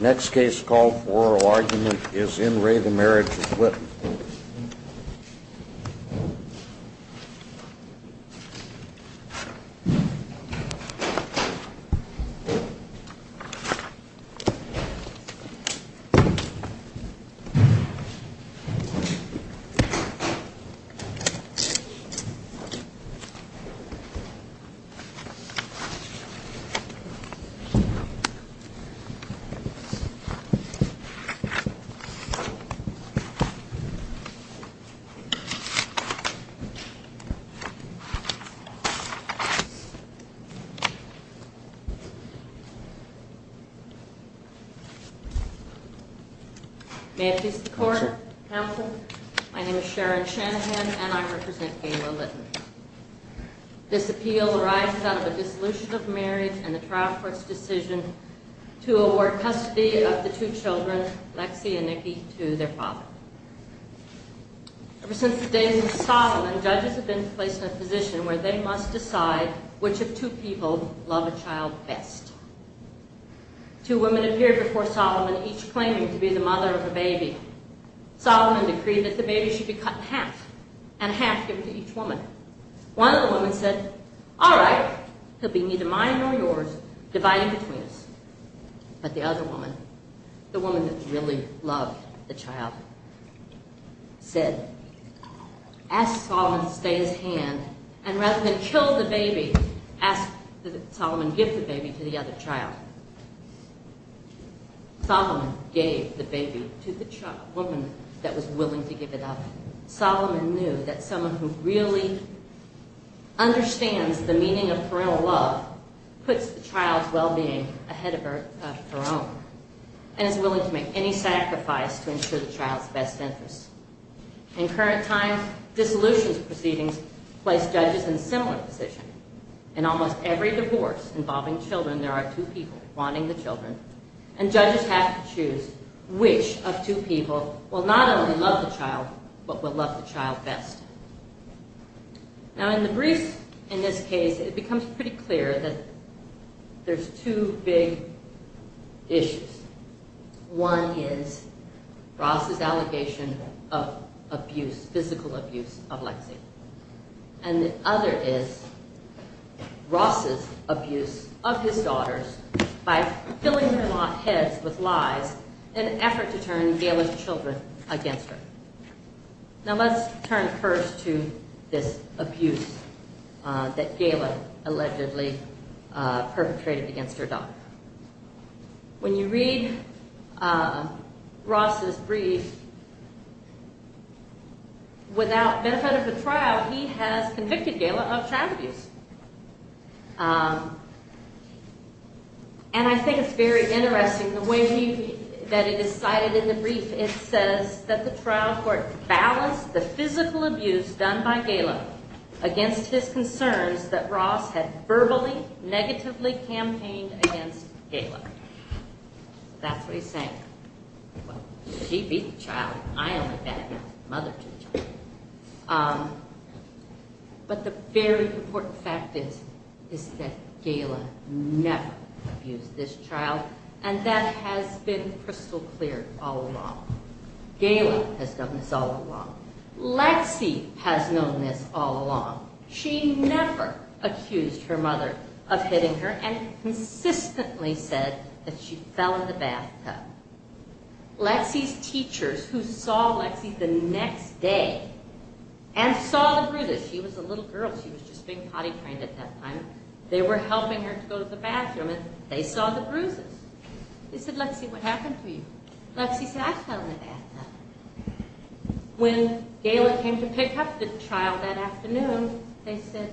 Next case called for oral argument is in re The Marriage of Litton. May it please the Court, Counsel, my name is Sharon Shanahan and I represent Gayla Litton. This appeal arises out of a dissolution of marriage and the trial court's decision to award custody of the two children, Lexi and Nikki, to their father. Ever since the days of Solomon, judges have been placed in a position where they must decide which of two people love a child best. Two women appeared before Solomon, each claiming to be the mother of the baby. Solomon decreed that the baby should be cut in half and half given to each woman. One of the women said, all right, he'll be neither mine nor yours, dividing between us. But the other woman, the woman that really loved the child, said, ask Solomon to stay his hand and rather than kill the baby, ask Solomon to give the baby to the other child. Solomon gave the baby to the woman that was willing to give it up. Solomon knew that someone who really understands the meaning of parental love puts the child's well-being ahead of her own and is willing to make any sacrifice to ensure the child's best interests. In current times, dissolution proceedings place judges in a similar position. In almost every divorce involving children, there are two people wanting the children. And judges have to choose which of two people will not only love the child, but will love the child best. Now, in the briefs in this case, it becomes pretty clear that there's two big issues. One is Ross's allegation of abuse, physical abuse of Lexi. And the other is Ross's abuse of his daughters by filling their heads with lies in an effort to turn Gayla's children against her. Now, let's turn first to this abuse that Gayla allegedly perpetrated against her daughter. When you read Ross's brief, without benefit of the trial, he has convicted Gayla of child abuse. And I think it's very interesting the way that it is cited in the brief. It says that the trial court balanced the physical abuse done by Gayla against his concerns that Ross had verbally, negatively campaigned against Gayla. That's what he's saying. Well, she beat the child. I only beat the mother to the child. But the very important fact is that Gayla never abused this child. And that has been crystal clear all along. Gayla has done this all along. Lexi has known this all along. She never accused her mother of hitting her and consistently said that she fell in the bathtub. Lexi's teachers who saw Lexi the next day and saw the bruises, she was a little girl, she was just being potty trained at that time, they were helping her to go to the bathroom and they saw the bruises. They said, Lexi, what happened to you? Lexi said, I fell in the bathtub. When Gayla came to pick up the child that afternoon, they said,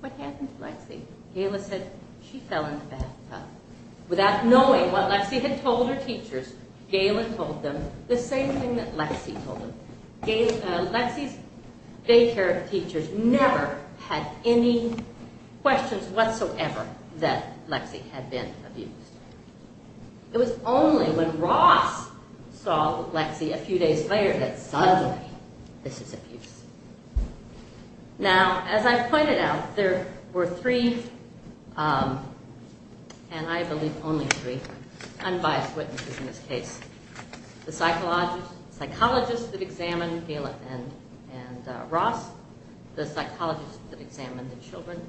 what happened to Lexi? Gayla said, she fell in the bathtub. Without knowing what Lexi had told her teachers, Gayla told them the same thing that Lexi told them. Lexi's daycare teachers never had any questions whatsoever that Lexi had been abused. It was only when Ross saw Lexi a few days later that suddenly, this is abuse. Now, as I pointed out, there were three, and I believe only three, unbiased witnesses in this case. The psychologists that examined Gayla and Ross, the psychologists that examined the children,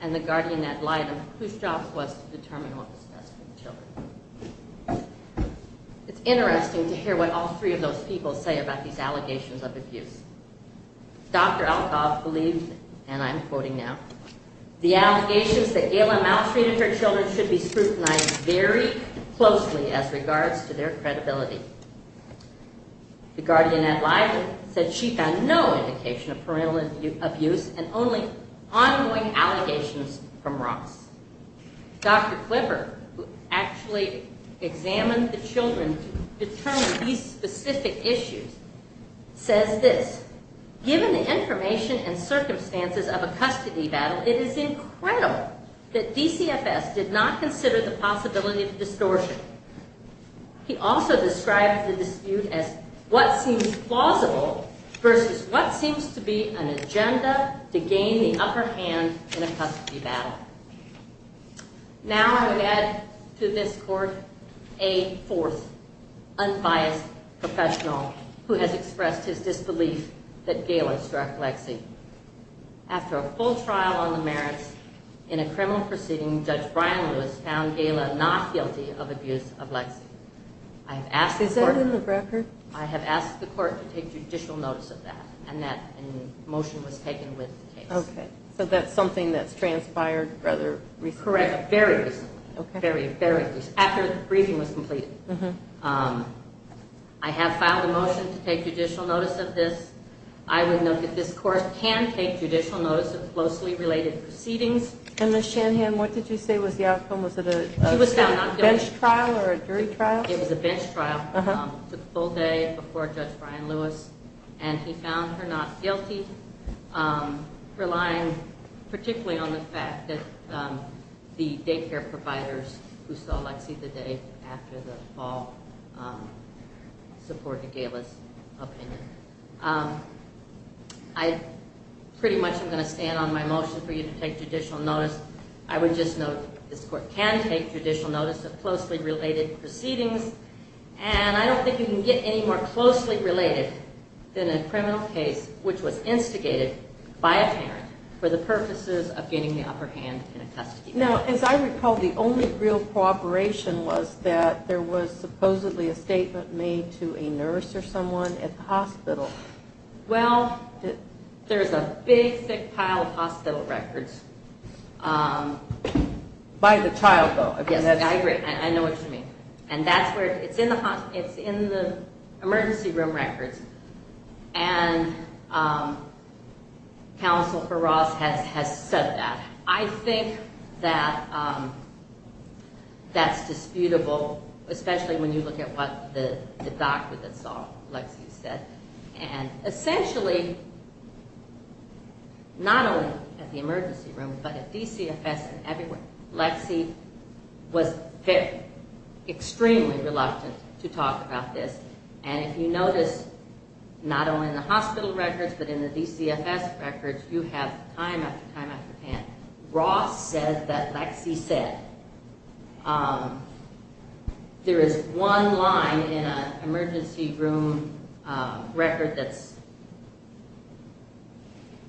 and the guardian ad litem whose job was to determine what was best for the children. It's interesting to hear what all three of those people say about these allegations of abuse. Dr. Alkov believes, and I'm quoting now, the allegations that Gayla maltreated her children should be scrutinized very closely as regards to their credibility. The guardian ad litem said she found no indication of parental abuse and only ongoing allegations from Ross. Dr. Clipper, who actually examined the children to determine these specific issues, says this, given the information and circumstances of a custody battle, it is incredible that DCFS did not consider the possibility of distortion. He also described the dispute as what seems plausible versus what seems to be an agenda to gain the upper hand in a custody battle. Now I would add to this court a fourth unbiased professional who has expressed his disbelief that Gayla struck Lexi. After a full trial on the merits in a criminal proceeding, Judge Brian Lewis found Gayla not guilty of abuse of Lexi. Is that in the record? I have asked the court to take judicial notice of that, and that motion was taken with the case. Okay. So that's something that's transpired rather recently. Correct. Very recently. Very, very recently. After the briefing was completed. I have filed a motion to take judicial notice of this. I would note that this court can take judicial notice of closely related proceedings. And Ms. Shanahan, what did you say was the outcome? Was it a bench trial or a jury trial? It was a bench trial. It took a full day before Judge Brian Lewis, and he found her not guilty, relying particularly on the fact that the daycare providers who saw Lexi the day after the fall supported Gayla's opinion. I pretty much am going to stand on my motion for you to take judicial notice. I would just note this court can take judicial notice of closely related proceedings, and I don't think you can get any more closely related than a criminal case which was instigated by a parent for the purposes of getting the upper hand in a custody case. Now, as I recall, the only real cooperation was that there was supposedly a statement made to a nurse or someone at the hospital. Well, there's a big, thick pile of hospital records. By the child, though. Yes, I agree. I know what you mean. And that's where, it's in the emergency room records, and Counsel for Ross has said that. I think that that's disputable, especially when you look at what the doctor that saw Lexi said. And essentially, not only at the emergency room, but at DCFS and everywhere, Lexi was extremely reluctant to talk about this. And if you notice, not only in the hospital records, but in the DCFS records, you have time after time after time. And Ross says that Lexi said, there is one line in an emergency room record that's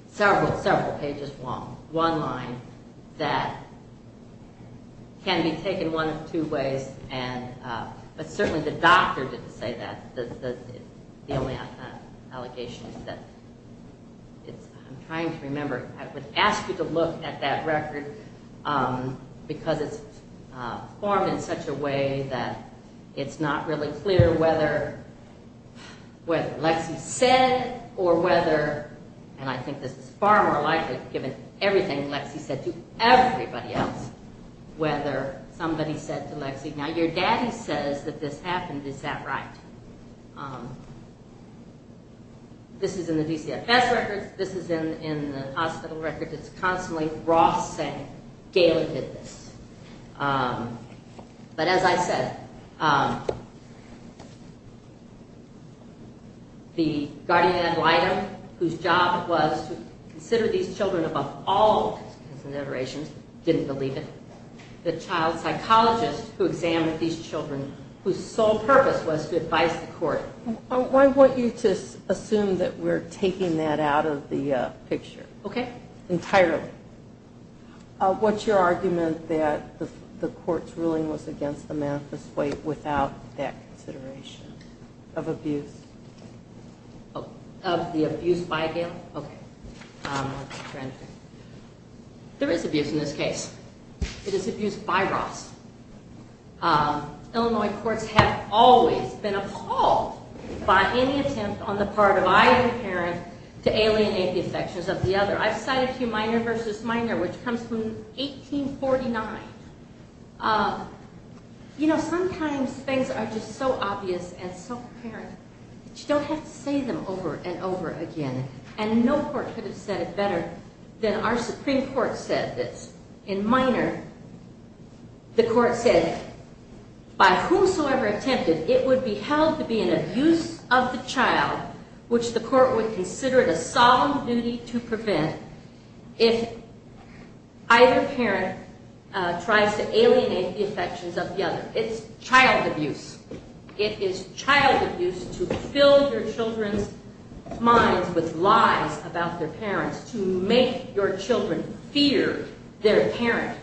several pages long, one line, that can be taken one of two ways. But certainly the doctor didn't say that. The only allegation is that, I'm trying to remember, I would ask you to look at that record, because it's formed in such a way that it's not really clear whether Lexi said or whether, and I think this is far more likely, given everything Lexi said to everybody else, whether somebody said to Lexi, now, your daddy says that this happened, is that right? This is in the DCFS records, this is in the hospital records, it's constantly Ross saying, Gail did this. But as I said, the guardian ad litem, whose job was to consider these children above all considerations, didn't believe it. The child psychologist who examined these children, whose sole purpose was to advise the court. I want you to assume that we're taking that out of the picture. Okay. Entirely. What's your argument that the court's ruling was against the manifesto without that consideration of abuse? Of the abuse by Gail? Okay. There is abuse in this case. It is abuse by Ross. Illinois courts have always been appalled by any attempt on the part of either parent to alienate the affections of the other. I've cited to you Minor v. Minor, which comes from 1849. You know, sometimes things are just so obvious and so apparent that you don't have to say them over and over again. And no court could have said it better than our Supreme Court said this. In Minor, the court said, It's child abuse. It is child abuse to fill your children's minds with lies about their parents, to make your children fear their parent.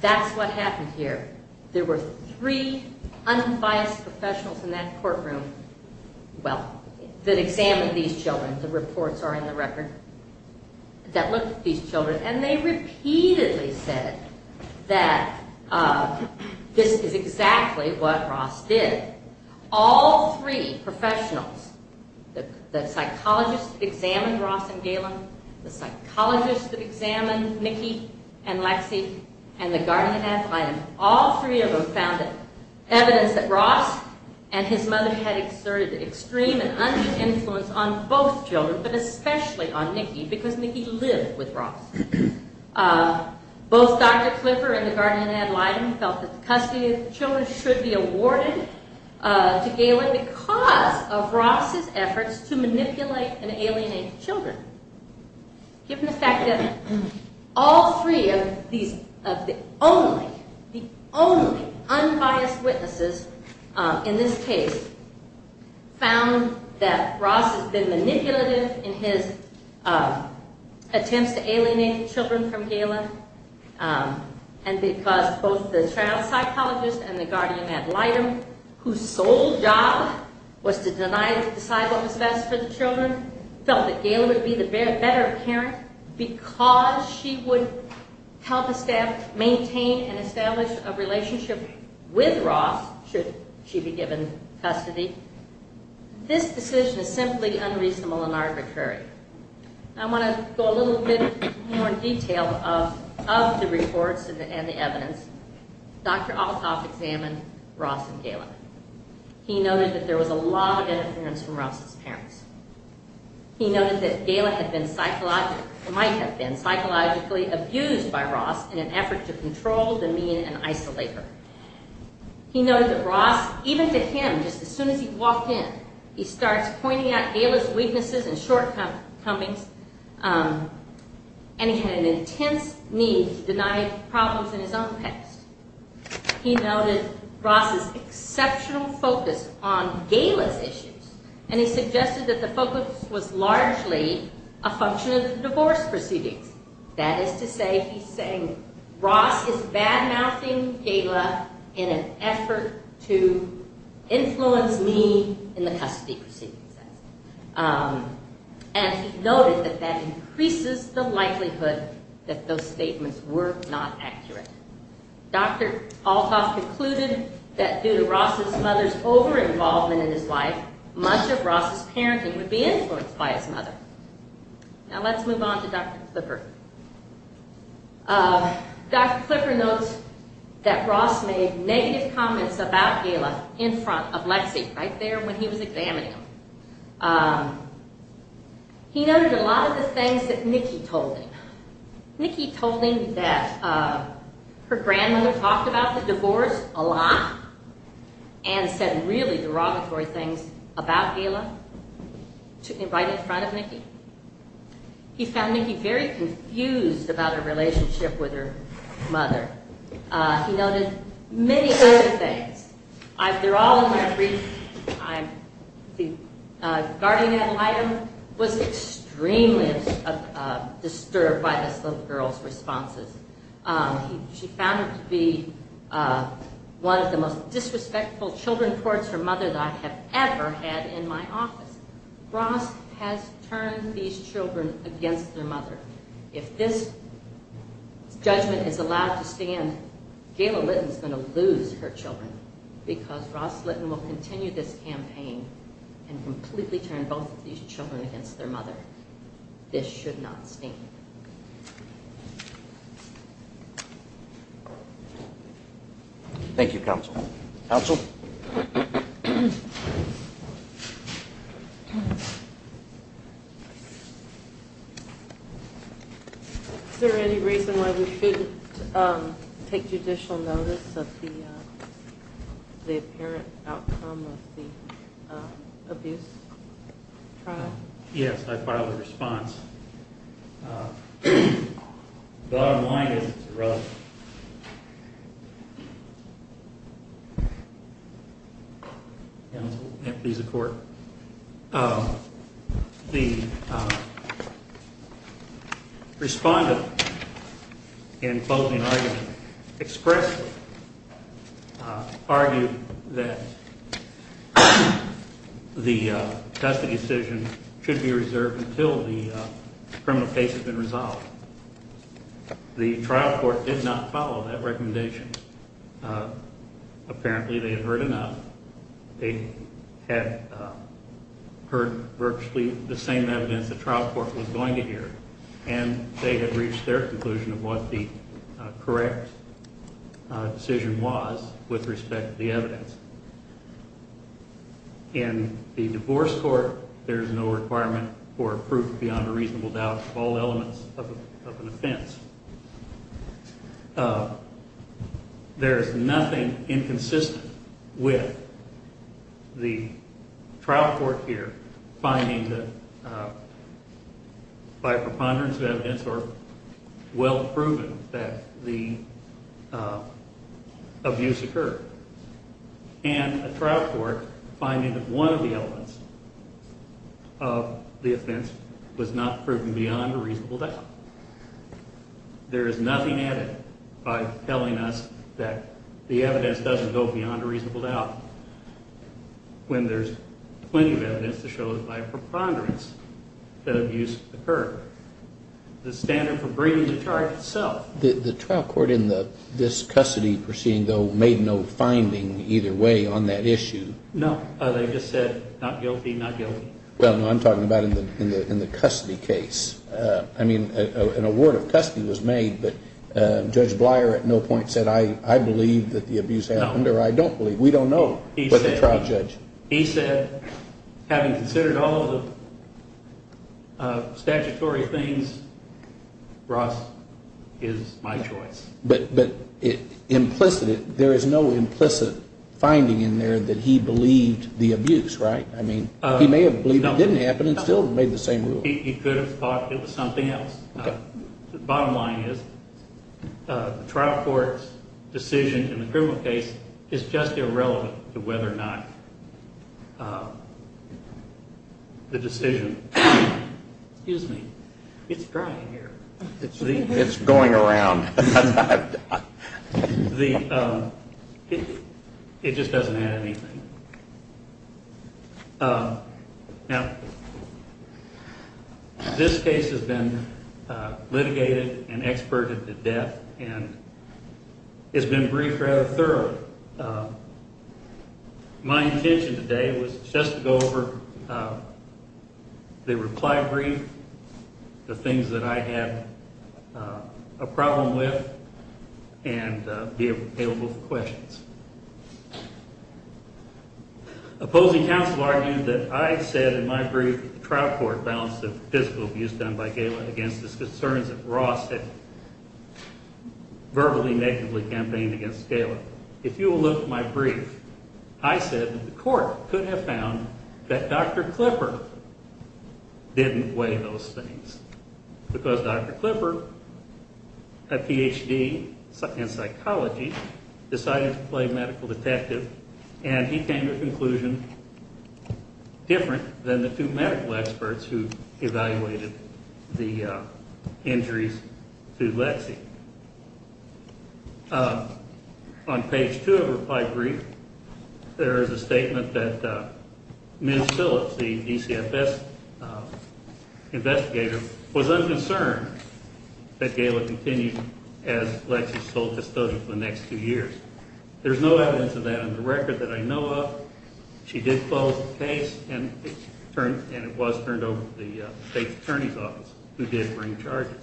That's what happened here. There were three unbiased professionals in that courtroom, well, that examined these children. The reports are in the record. That looked at these children, and they repeatedly said that this is exactly what Ross did. All three professionals, the psychologists that examined Ross and Galen, the psychologists that examined Nicky and Lexie, and the guardian-athlete, all three of them found evidence that Ross and his mother had exerted extreme and unjust influence on both children, but especially on Nicky, because Nicky lived with Ross. Both Dr. Clifford and the guardian-athlete felt that the custody of the children should be awarded to Galen because of Ross' efforts to manipulate and alienate the children. Given the fact that all three of the only, the only unbiased witnesses in this case found that Ross has been manipulative in his attempts to alienate children from Galen, and because both the child psychologist and the guardian-athlete, whose sole job was to decide what was best for the children, felt that Galen would be the better parent because she would help the staff maintain and establish a relationship with Ross, should she be given custody. This decision is simply unreasonable and arbitrary. I want to go a little bit more in detail of the reports and the evidence. Dr. Althoff examined Ross and Galen. He noted that there was a lot of interference from Ross' parents. He noted that Galen had been psychologically, might have been psychologically abused by Ross in an effort to control, demean, and isolate her. He noted that Ross, even to him, just as soon as he walked in, he starts pointing out Galen's weaknesses and shortcomings, and he had an intense need to deny problems in his own past. He noted Ross' exceptional focus on Galen's issues, and he suggested that the focus was largely a function of the divorce proceedings. That is to say, he's saying Ross is bad-mouthing Galen in an effort to influence me in the custody proceedings. And he noted that that increases the likelihood that those statements were not accurate. Dr. Althoff concluded that due to Ross' mother's over-involvement in his life, much of Ross' parenting would be influenced by his mother. Now let's move on to Dr. Clipper. Dr. Clipper notes that Ross made negative comments about Galen in front of Lexi right there when he was examining him. He noted a lot of the things that Nikki told him. Nikki told him that her grandmother talked about the divorce a lot, and said really derogatory things about Galen, right in front of Nikki. He found Nikki very confused about her relationship with her mother. He noted many other things. They're all in my brief. The guardian ad litem was extremely disturbed by this little girl's responses. She found her to be one of the most disrespectful children towards her mother that I have ever had in my office. Ross has turned these children against their mother. If this judgment is allowed to stand, Gayla Litton is going to lose her children. Because Ross Litton will continue this campaign and completely turn both of these children against their mother. This should not stand. Thank you, counsel. Counsel? Is there any reason why we shouldn't take judicial notice of the apparent outcome of the abuse trial? Yes, I filed a response. Bottom line is it's irrelevant. Counsel? Please, the court. The respondent in closing argument expressly argued that the custody decision should be reserved until the criminal case has been resolved. The trial court did not follow that recommendation. Apparently they had heard enough. They had heard virtually the same evidence the trial court was going to hear. And they had reached their conclusion of what the correct decision was with respect to the evidence. In the divorce court, there is no requirement for proof beyond a reasonable doubt of all elements of an offense. There is nothing inconsistent with the trial court here finding that by preponderance of evidence or well proven that the abuse occurred. And a trial court finding that one of the elements of the offense was not proven beyond a reasonable doubt. There is nothing added by telling us that the evidence doesn't go beyond a reasonable doubt when there's plenty of evidence to show that by preponderance the abuse occurred. The standard for bringing the charge itself. The trial court in this custody proceeding though made no finding either way on that issue. No, they just said not guilty, not guilty. Well, I'm talking about in the custody case. I mean, an award of custody was made, but Judge Blier at no point said I believe that the abuse happened or I don't believe. We don't know what the trial judge. He said, having considered all of the statutory things, Ross is my choice. But implicitly, there is no implicit finding in there that he believed the abuse, right? I mean, he may have believed it didn't happen and still made the same rule. He could have thought it was something else. Bottom line is the trial court's decision in the criminal case is just irrelevant to whether or not the decision. Excuse me. It's dry in here. It's going around. It just doesn't add anything. Now, this case has been litigated and experted to death and it's been briefed rather thoroughly. My intention today was just to go over the reply brief, the things that I had a problem with and be available for questions. Opposing counsel argued that I said in my brief that the trial court balanced the physical abuse done by Gayla against the concerns that Ross had verbally, negatively campaigned against Gayla. If you will look at my brief, I said that the court could have found that Dr. Clipper didn't weigh those things. Because Dr. Clipper, a Ph.D. in psychology, decided to play medical detective and he came to a conclusion different than the two medical experts who evaluated the injuries to Lexi. On page two of the reply brief, there is a statement that Ms. Phillips, the DCFS investigator, was unconcerned that Gayla continued as Lexi's sole custodian for the next two years. There's no evidence of that in the record that I know of. She did close the case and it was turned over to the state attorney's office who did bring charges.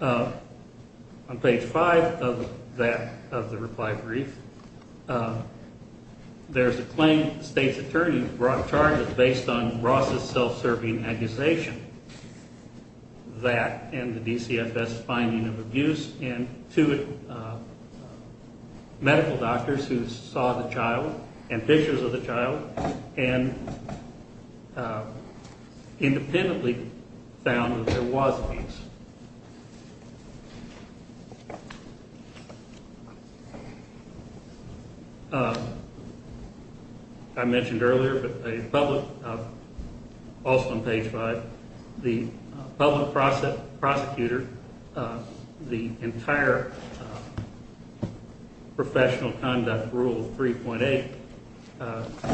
On page five of that, of the reply brief, there's a claim the state's attorney brought charges based on Ross' self-serving accusation. That and the DCFS finding of abuse and two medical doctors who saw the child and pictures of the child and independently found that there was abuse. I mentioned earlier that the public, also on page five, the public prosecutor, the entire professional conduct rule 3.8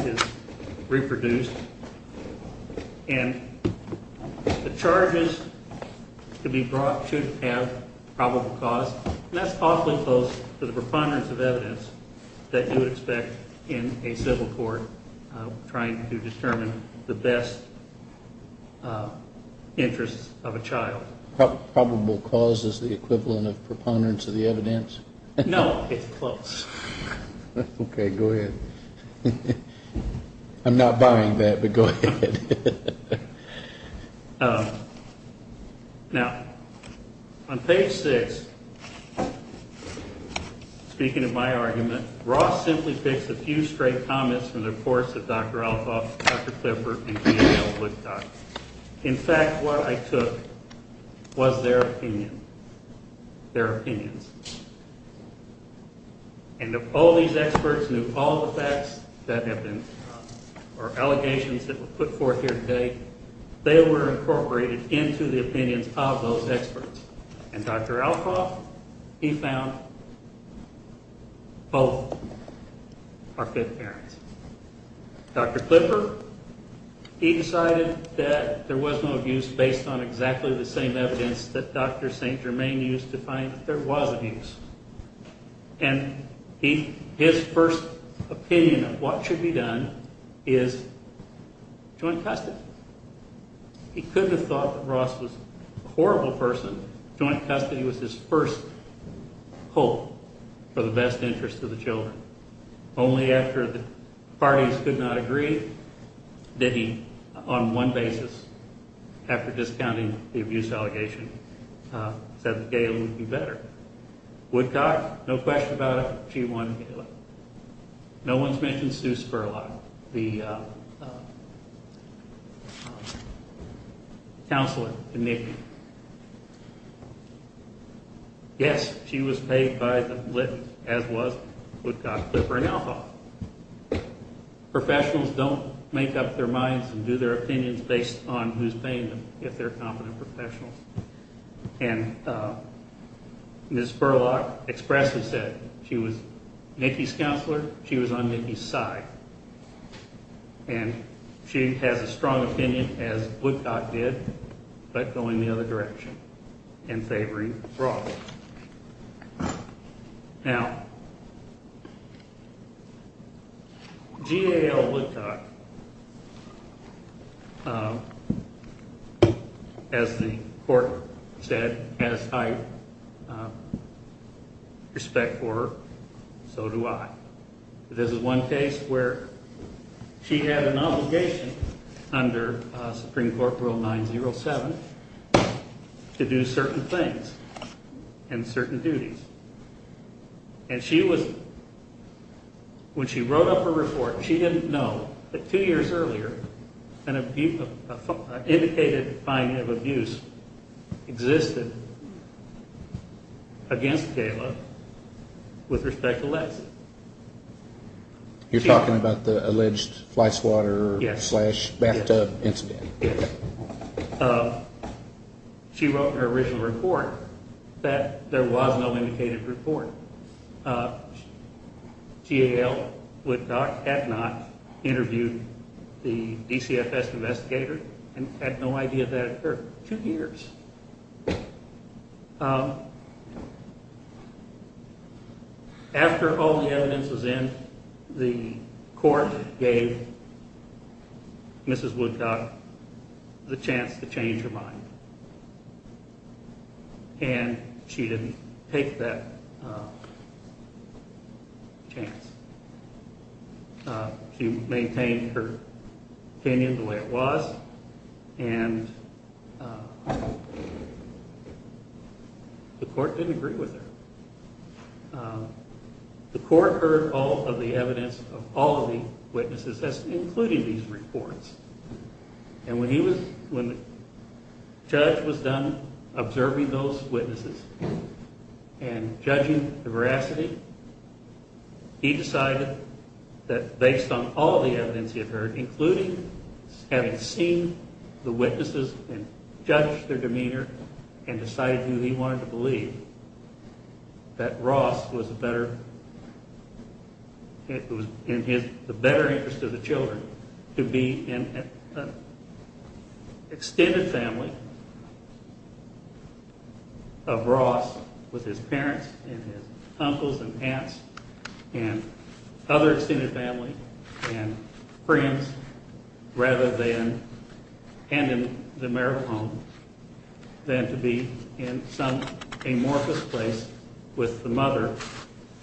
is reproduced. The charges to be brought should have probable cause. That's awfully close to the preponderance of evidence that you would expect in a civil court trying to determine the best interests of a child. Probable cause is the equivalent of preponderance of the evidence? No, it's close. Okay, go ahead. I'm not buying that, but go ahead. Now, on page six, speaking of my argument, Ross simply picks a few straight comments from the reports of Dr. Alcoff, Dr. Clifford, and Danielle Woodcock. In fact, what I took was their opinion, their opinions. And if all these experts knew all the facts that have been, or allegations that were put forth here today, they were incorporated into the opinions of those experts. And Dr. Alcoff, he found both are fit parents. Dr. Clifford, he decided that there was no abuse based on exactly the same evidence that Dr. St. Germain used to find that there was abuse. And his first opinion of what should be done is joint custody. He couldn't have thought that Ross was a horrible person. Joint custody was his first hope for the best interest of the children. Only after the parties could not agree did he, on one basis, after discounting the abuse allegation, said that Gail would be better. Woodcock, no question about it, she won Gail. No one's mentioned Sue Spurlock, the counselor to Nikki. Yes, she was paid by the lit, as was Woodcock, Clifford, and Alcoff. Professionals don't make up their minds and do their opinions based on who's paying them, if they're competent professionals. And Ms. Spurlock expressly said she was Nikki's counselor, she was on Nikki's side. And she has a strong opinion, as Woodcock did, but going the other direction and favoring Ross. Now, Gail Woodcock, as the court said, has high respect for her, so do I. This is one case where she had an obligation under Supreme Court Rule 907 to do certain things and certain duties. And she was, when she wrote up a report, she didn't know that two years earlier, an indicated finding of abuse existed against Gail with respect to Lexie. You're talking about the alleged fly swatter slash bathtub incident? Yes. She wrote in her original report that there was no indicated report. Gail Woodcock had not interviewed the DCFS investigator and had no idea that it occurred. Two years. After all the evidence was in, the court gave Mrs. Woodcock the chance to change her mind. And she didn't take that chance. She maintained her opinion the way it was, and the court didn't agree with her. The court heard all of the evidence of all of the witnesses, including these reports. And when the judge was done observing those witnesses and judging the veracity, he decided that based on all the evidence he had heard, including having seen the witnesses and judged their demeanor and decided who he wanted to believe, that Ross was in the better interest of the children to be in an extended family of Ross with his parents and his uncles and aunts and other extended family and friends rather than, and in the marital home, than to be in some amorphous place with the mother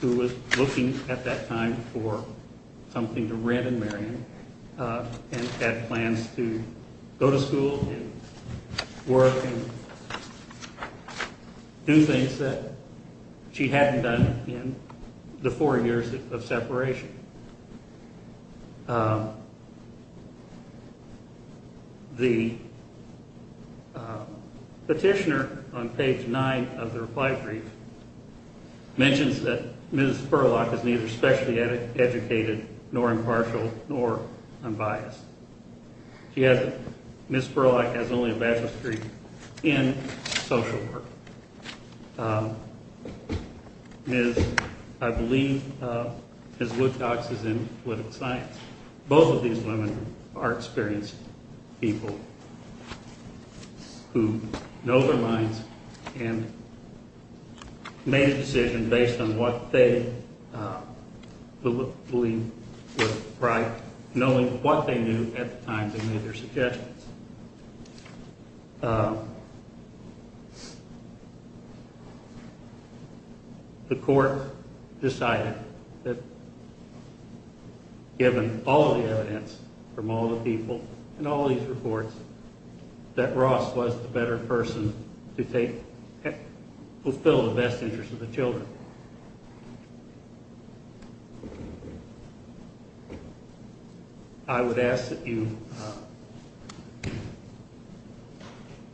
who was looking at that time for something to rent and marry him. And had plans to go to school and work and do things that she hadn't done in the four years of separation. The petitioner on page nine of the reply brief mentions that Ms. Furlock is neither specially educated nor impartial nor unbiased. She hasn't. Ms. Furlock has only a bachelor's degree in social work. Ms. I believe, Ms. Woodcocks is in political science. Both of these women are experienced people who know their minds and made a decision based on what they believed was right, knowing what they knew at the time they made their suggestions. The court decided that given all the evidence from all the people and all these reports that Ross was the better person to fulfill the best interest of the children. So I would ask that you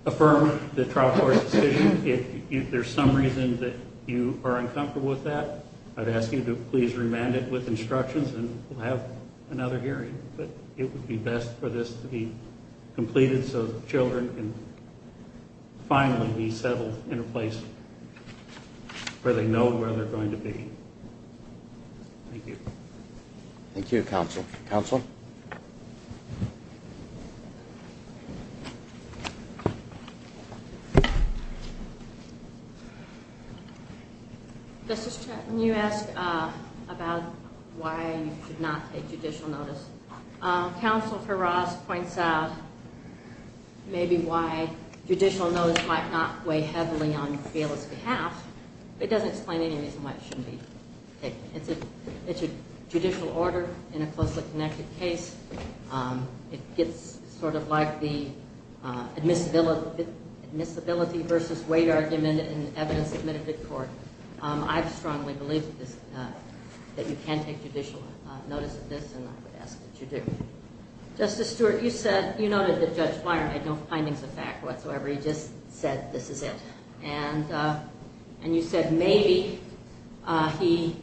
affirm the trial court's decision. If there's some reason that you are uncomfortable with that, I'd ask you to please remand it with instructions and we'll have another hearing. But it would be best for this to be completed so the children can finally be settled in a place where they know where they're going to be. Thank you. Thank you, counsel. Counsel? This is Chet. When you asked about why you could not take judicial notice, counsel for Ross points out maybe why judicial notice might not weigh heavily on Gail's behalf. It doesn't explain any reason why it shouldn't be taken. It's a judicial order in a closely connected case. It gets sort of like the admissibility versus weight argument in evidence submitted to court. I strongly believe that you can take judicial notice of this and I would ask that you do. Justice Stewart, you noted that Judge Byron had no findings of fact whatsoever. He just said this is it. And you said maybe he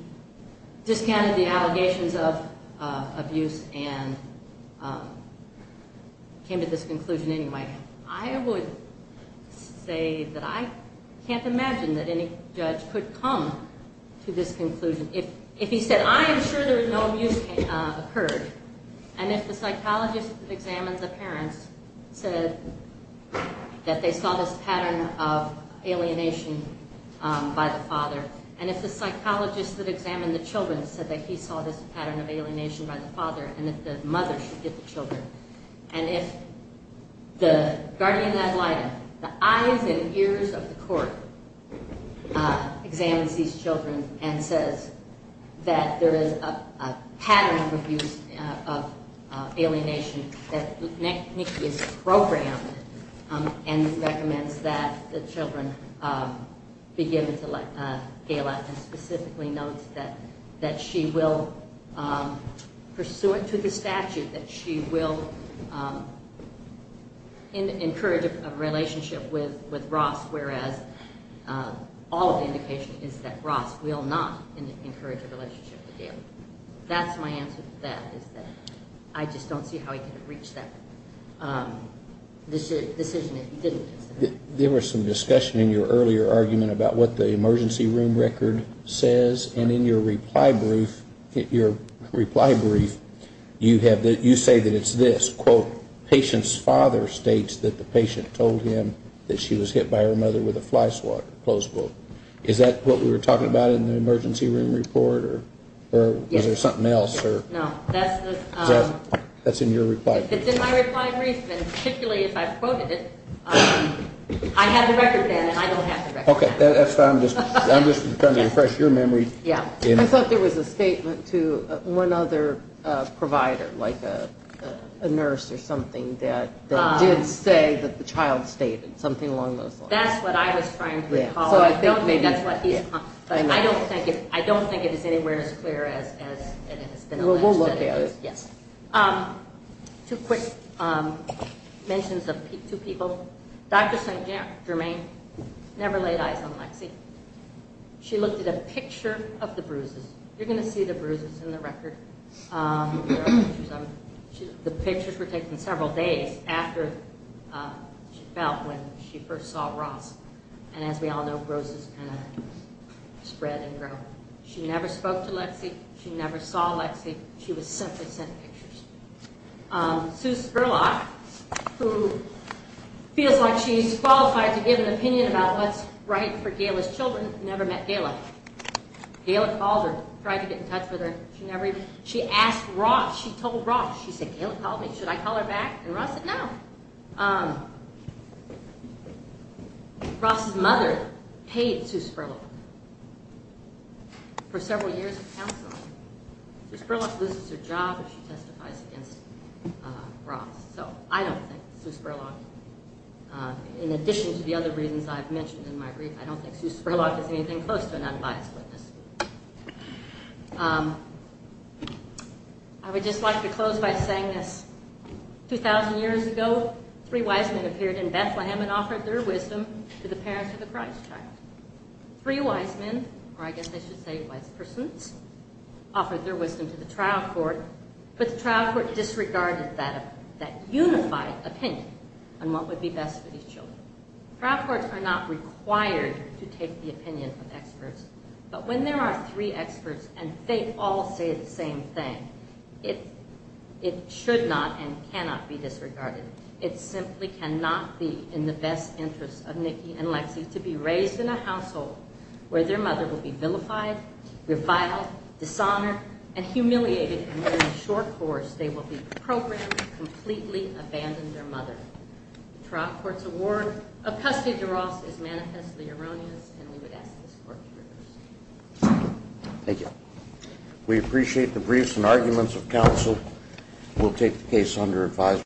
discounted the allegations of abuse and came to this conclusion anyway. I would say that I can't imagine that any judge could come to this conclusion. If he said I am sure there is no abuse occurred and if the psychologist that examined the parents said that they saw this pattern of alienation by the father and if the psychologist that examined the children said that he saw this pattern of alienation by the father and that the mother should get the children and if the guardian ad litem, the eyes and ears of the court examines these children and says that there is a pattern of abuse of alienation that is programmed and recommends that the children be given to Gail and specifically notes that she will, pursuant to the statute, that she will encourage a relationship with Ross whereas all of the indication is that Ross will not encourage a relationship with Gail. That's my answer to that is that I just don't see how he could have reached that decision if he didn't. There was some discussion in your earlier argument about what the emergency room record says and in your reply brief, your reply brief, you say that it's this, quote, patient's father states that the patient told him that she was hit by her mother with a fly swatter, close quote. Is that what we were talking about in the emergency room report or was there something else? It's in my reply brief and particularly if I quoted it, I had the record then and I don't have the record now. I'm just trying to refresh your memory. I thought there was a statement to one other provider like a nurse or something that did say that the child stated something along those lines. That's what I was trying to recall. I don't think it is anywhere as clear as it has been alleged. We'll look at it. Two quick mentions of two people. Dr. St. Germain never laid eyes on Lexi. She looked at a picture of the bruises. You're going to see the bruises in the record. The pictures were taken several days after she fell when she first saw Ross. And as we all know, bruises kind of spread and grow. She never spoke to Lexi. She never saw Lexi. She was simply sent pictures. Sue Spurlock, who feels like she's qualified to give an opinion about what's right for Gaila's children, never met Gaila. Gaila called her, tried to get in touch with her. She asked Ross, she told Ross, she said, Gaila called me, should I call her back? And Ross said no. Ross's mother paid Sue Spurlock for several years of counseling. Sue Spurlock loses her job if she testifies against Ross. So I don't think Sue Spurlock, in addition to the other reasons I've mentioned in my brief, I don't think Sue Spurlock is anything close to an unbiased witness. I would just like to close by saying this. 2,000 years ago, three wise men appeared in Bethlehem and offered their wisdom to the parents of the Christ child. Three wise men, or I guess I should say wise persons, offered their wisdom to the trial court, but the trial court disregarded that unified opinion on what would be best for these children. Trial courts are not required to take the opinion of experts, but when there are three experts and they all say the same thing, it should not and cannot be disregarded. It simply cannot be in the best interest of Nikki and Lexi to be raised in a household where their mother will be vilified, reviled, dishonored, and humiliated, and in the short course, they will be programmed to completely abandon their mother. The trial court's award of custody to Ross is manifestly erroneous, and we would ask this court to reverse it. Thank you. We appreciate the briefs and arguments of counsel. We'll take the case under advisory.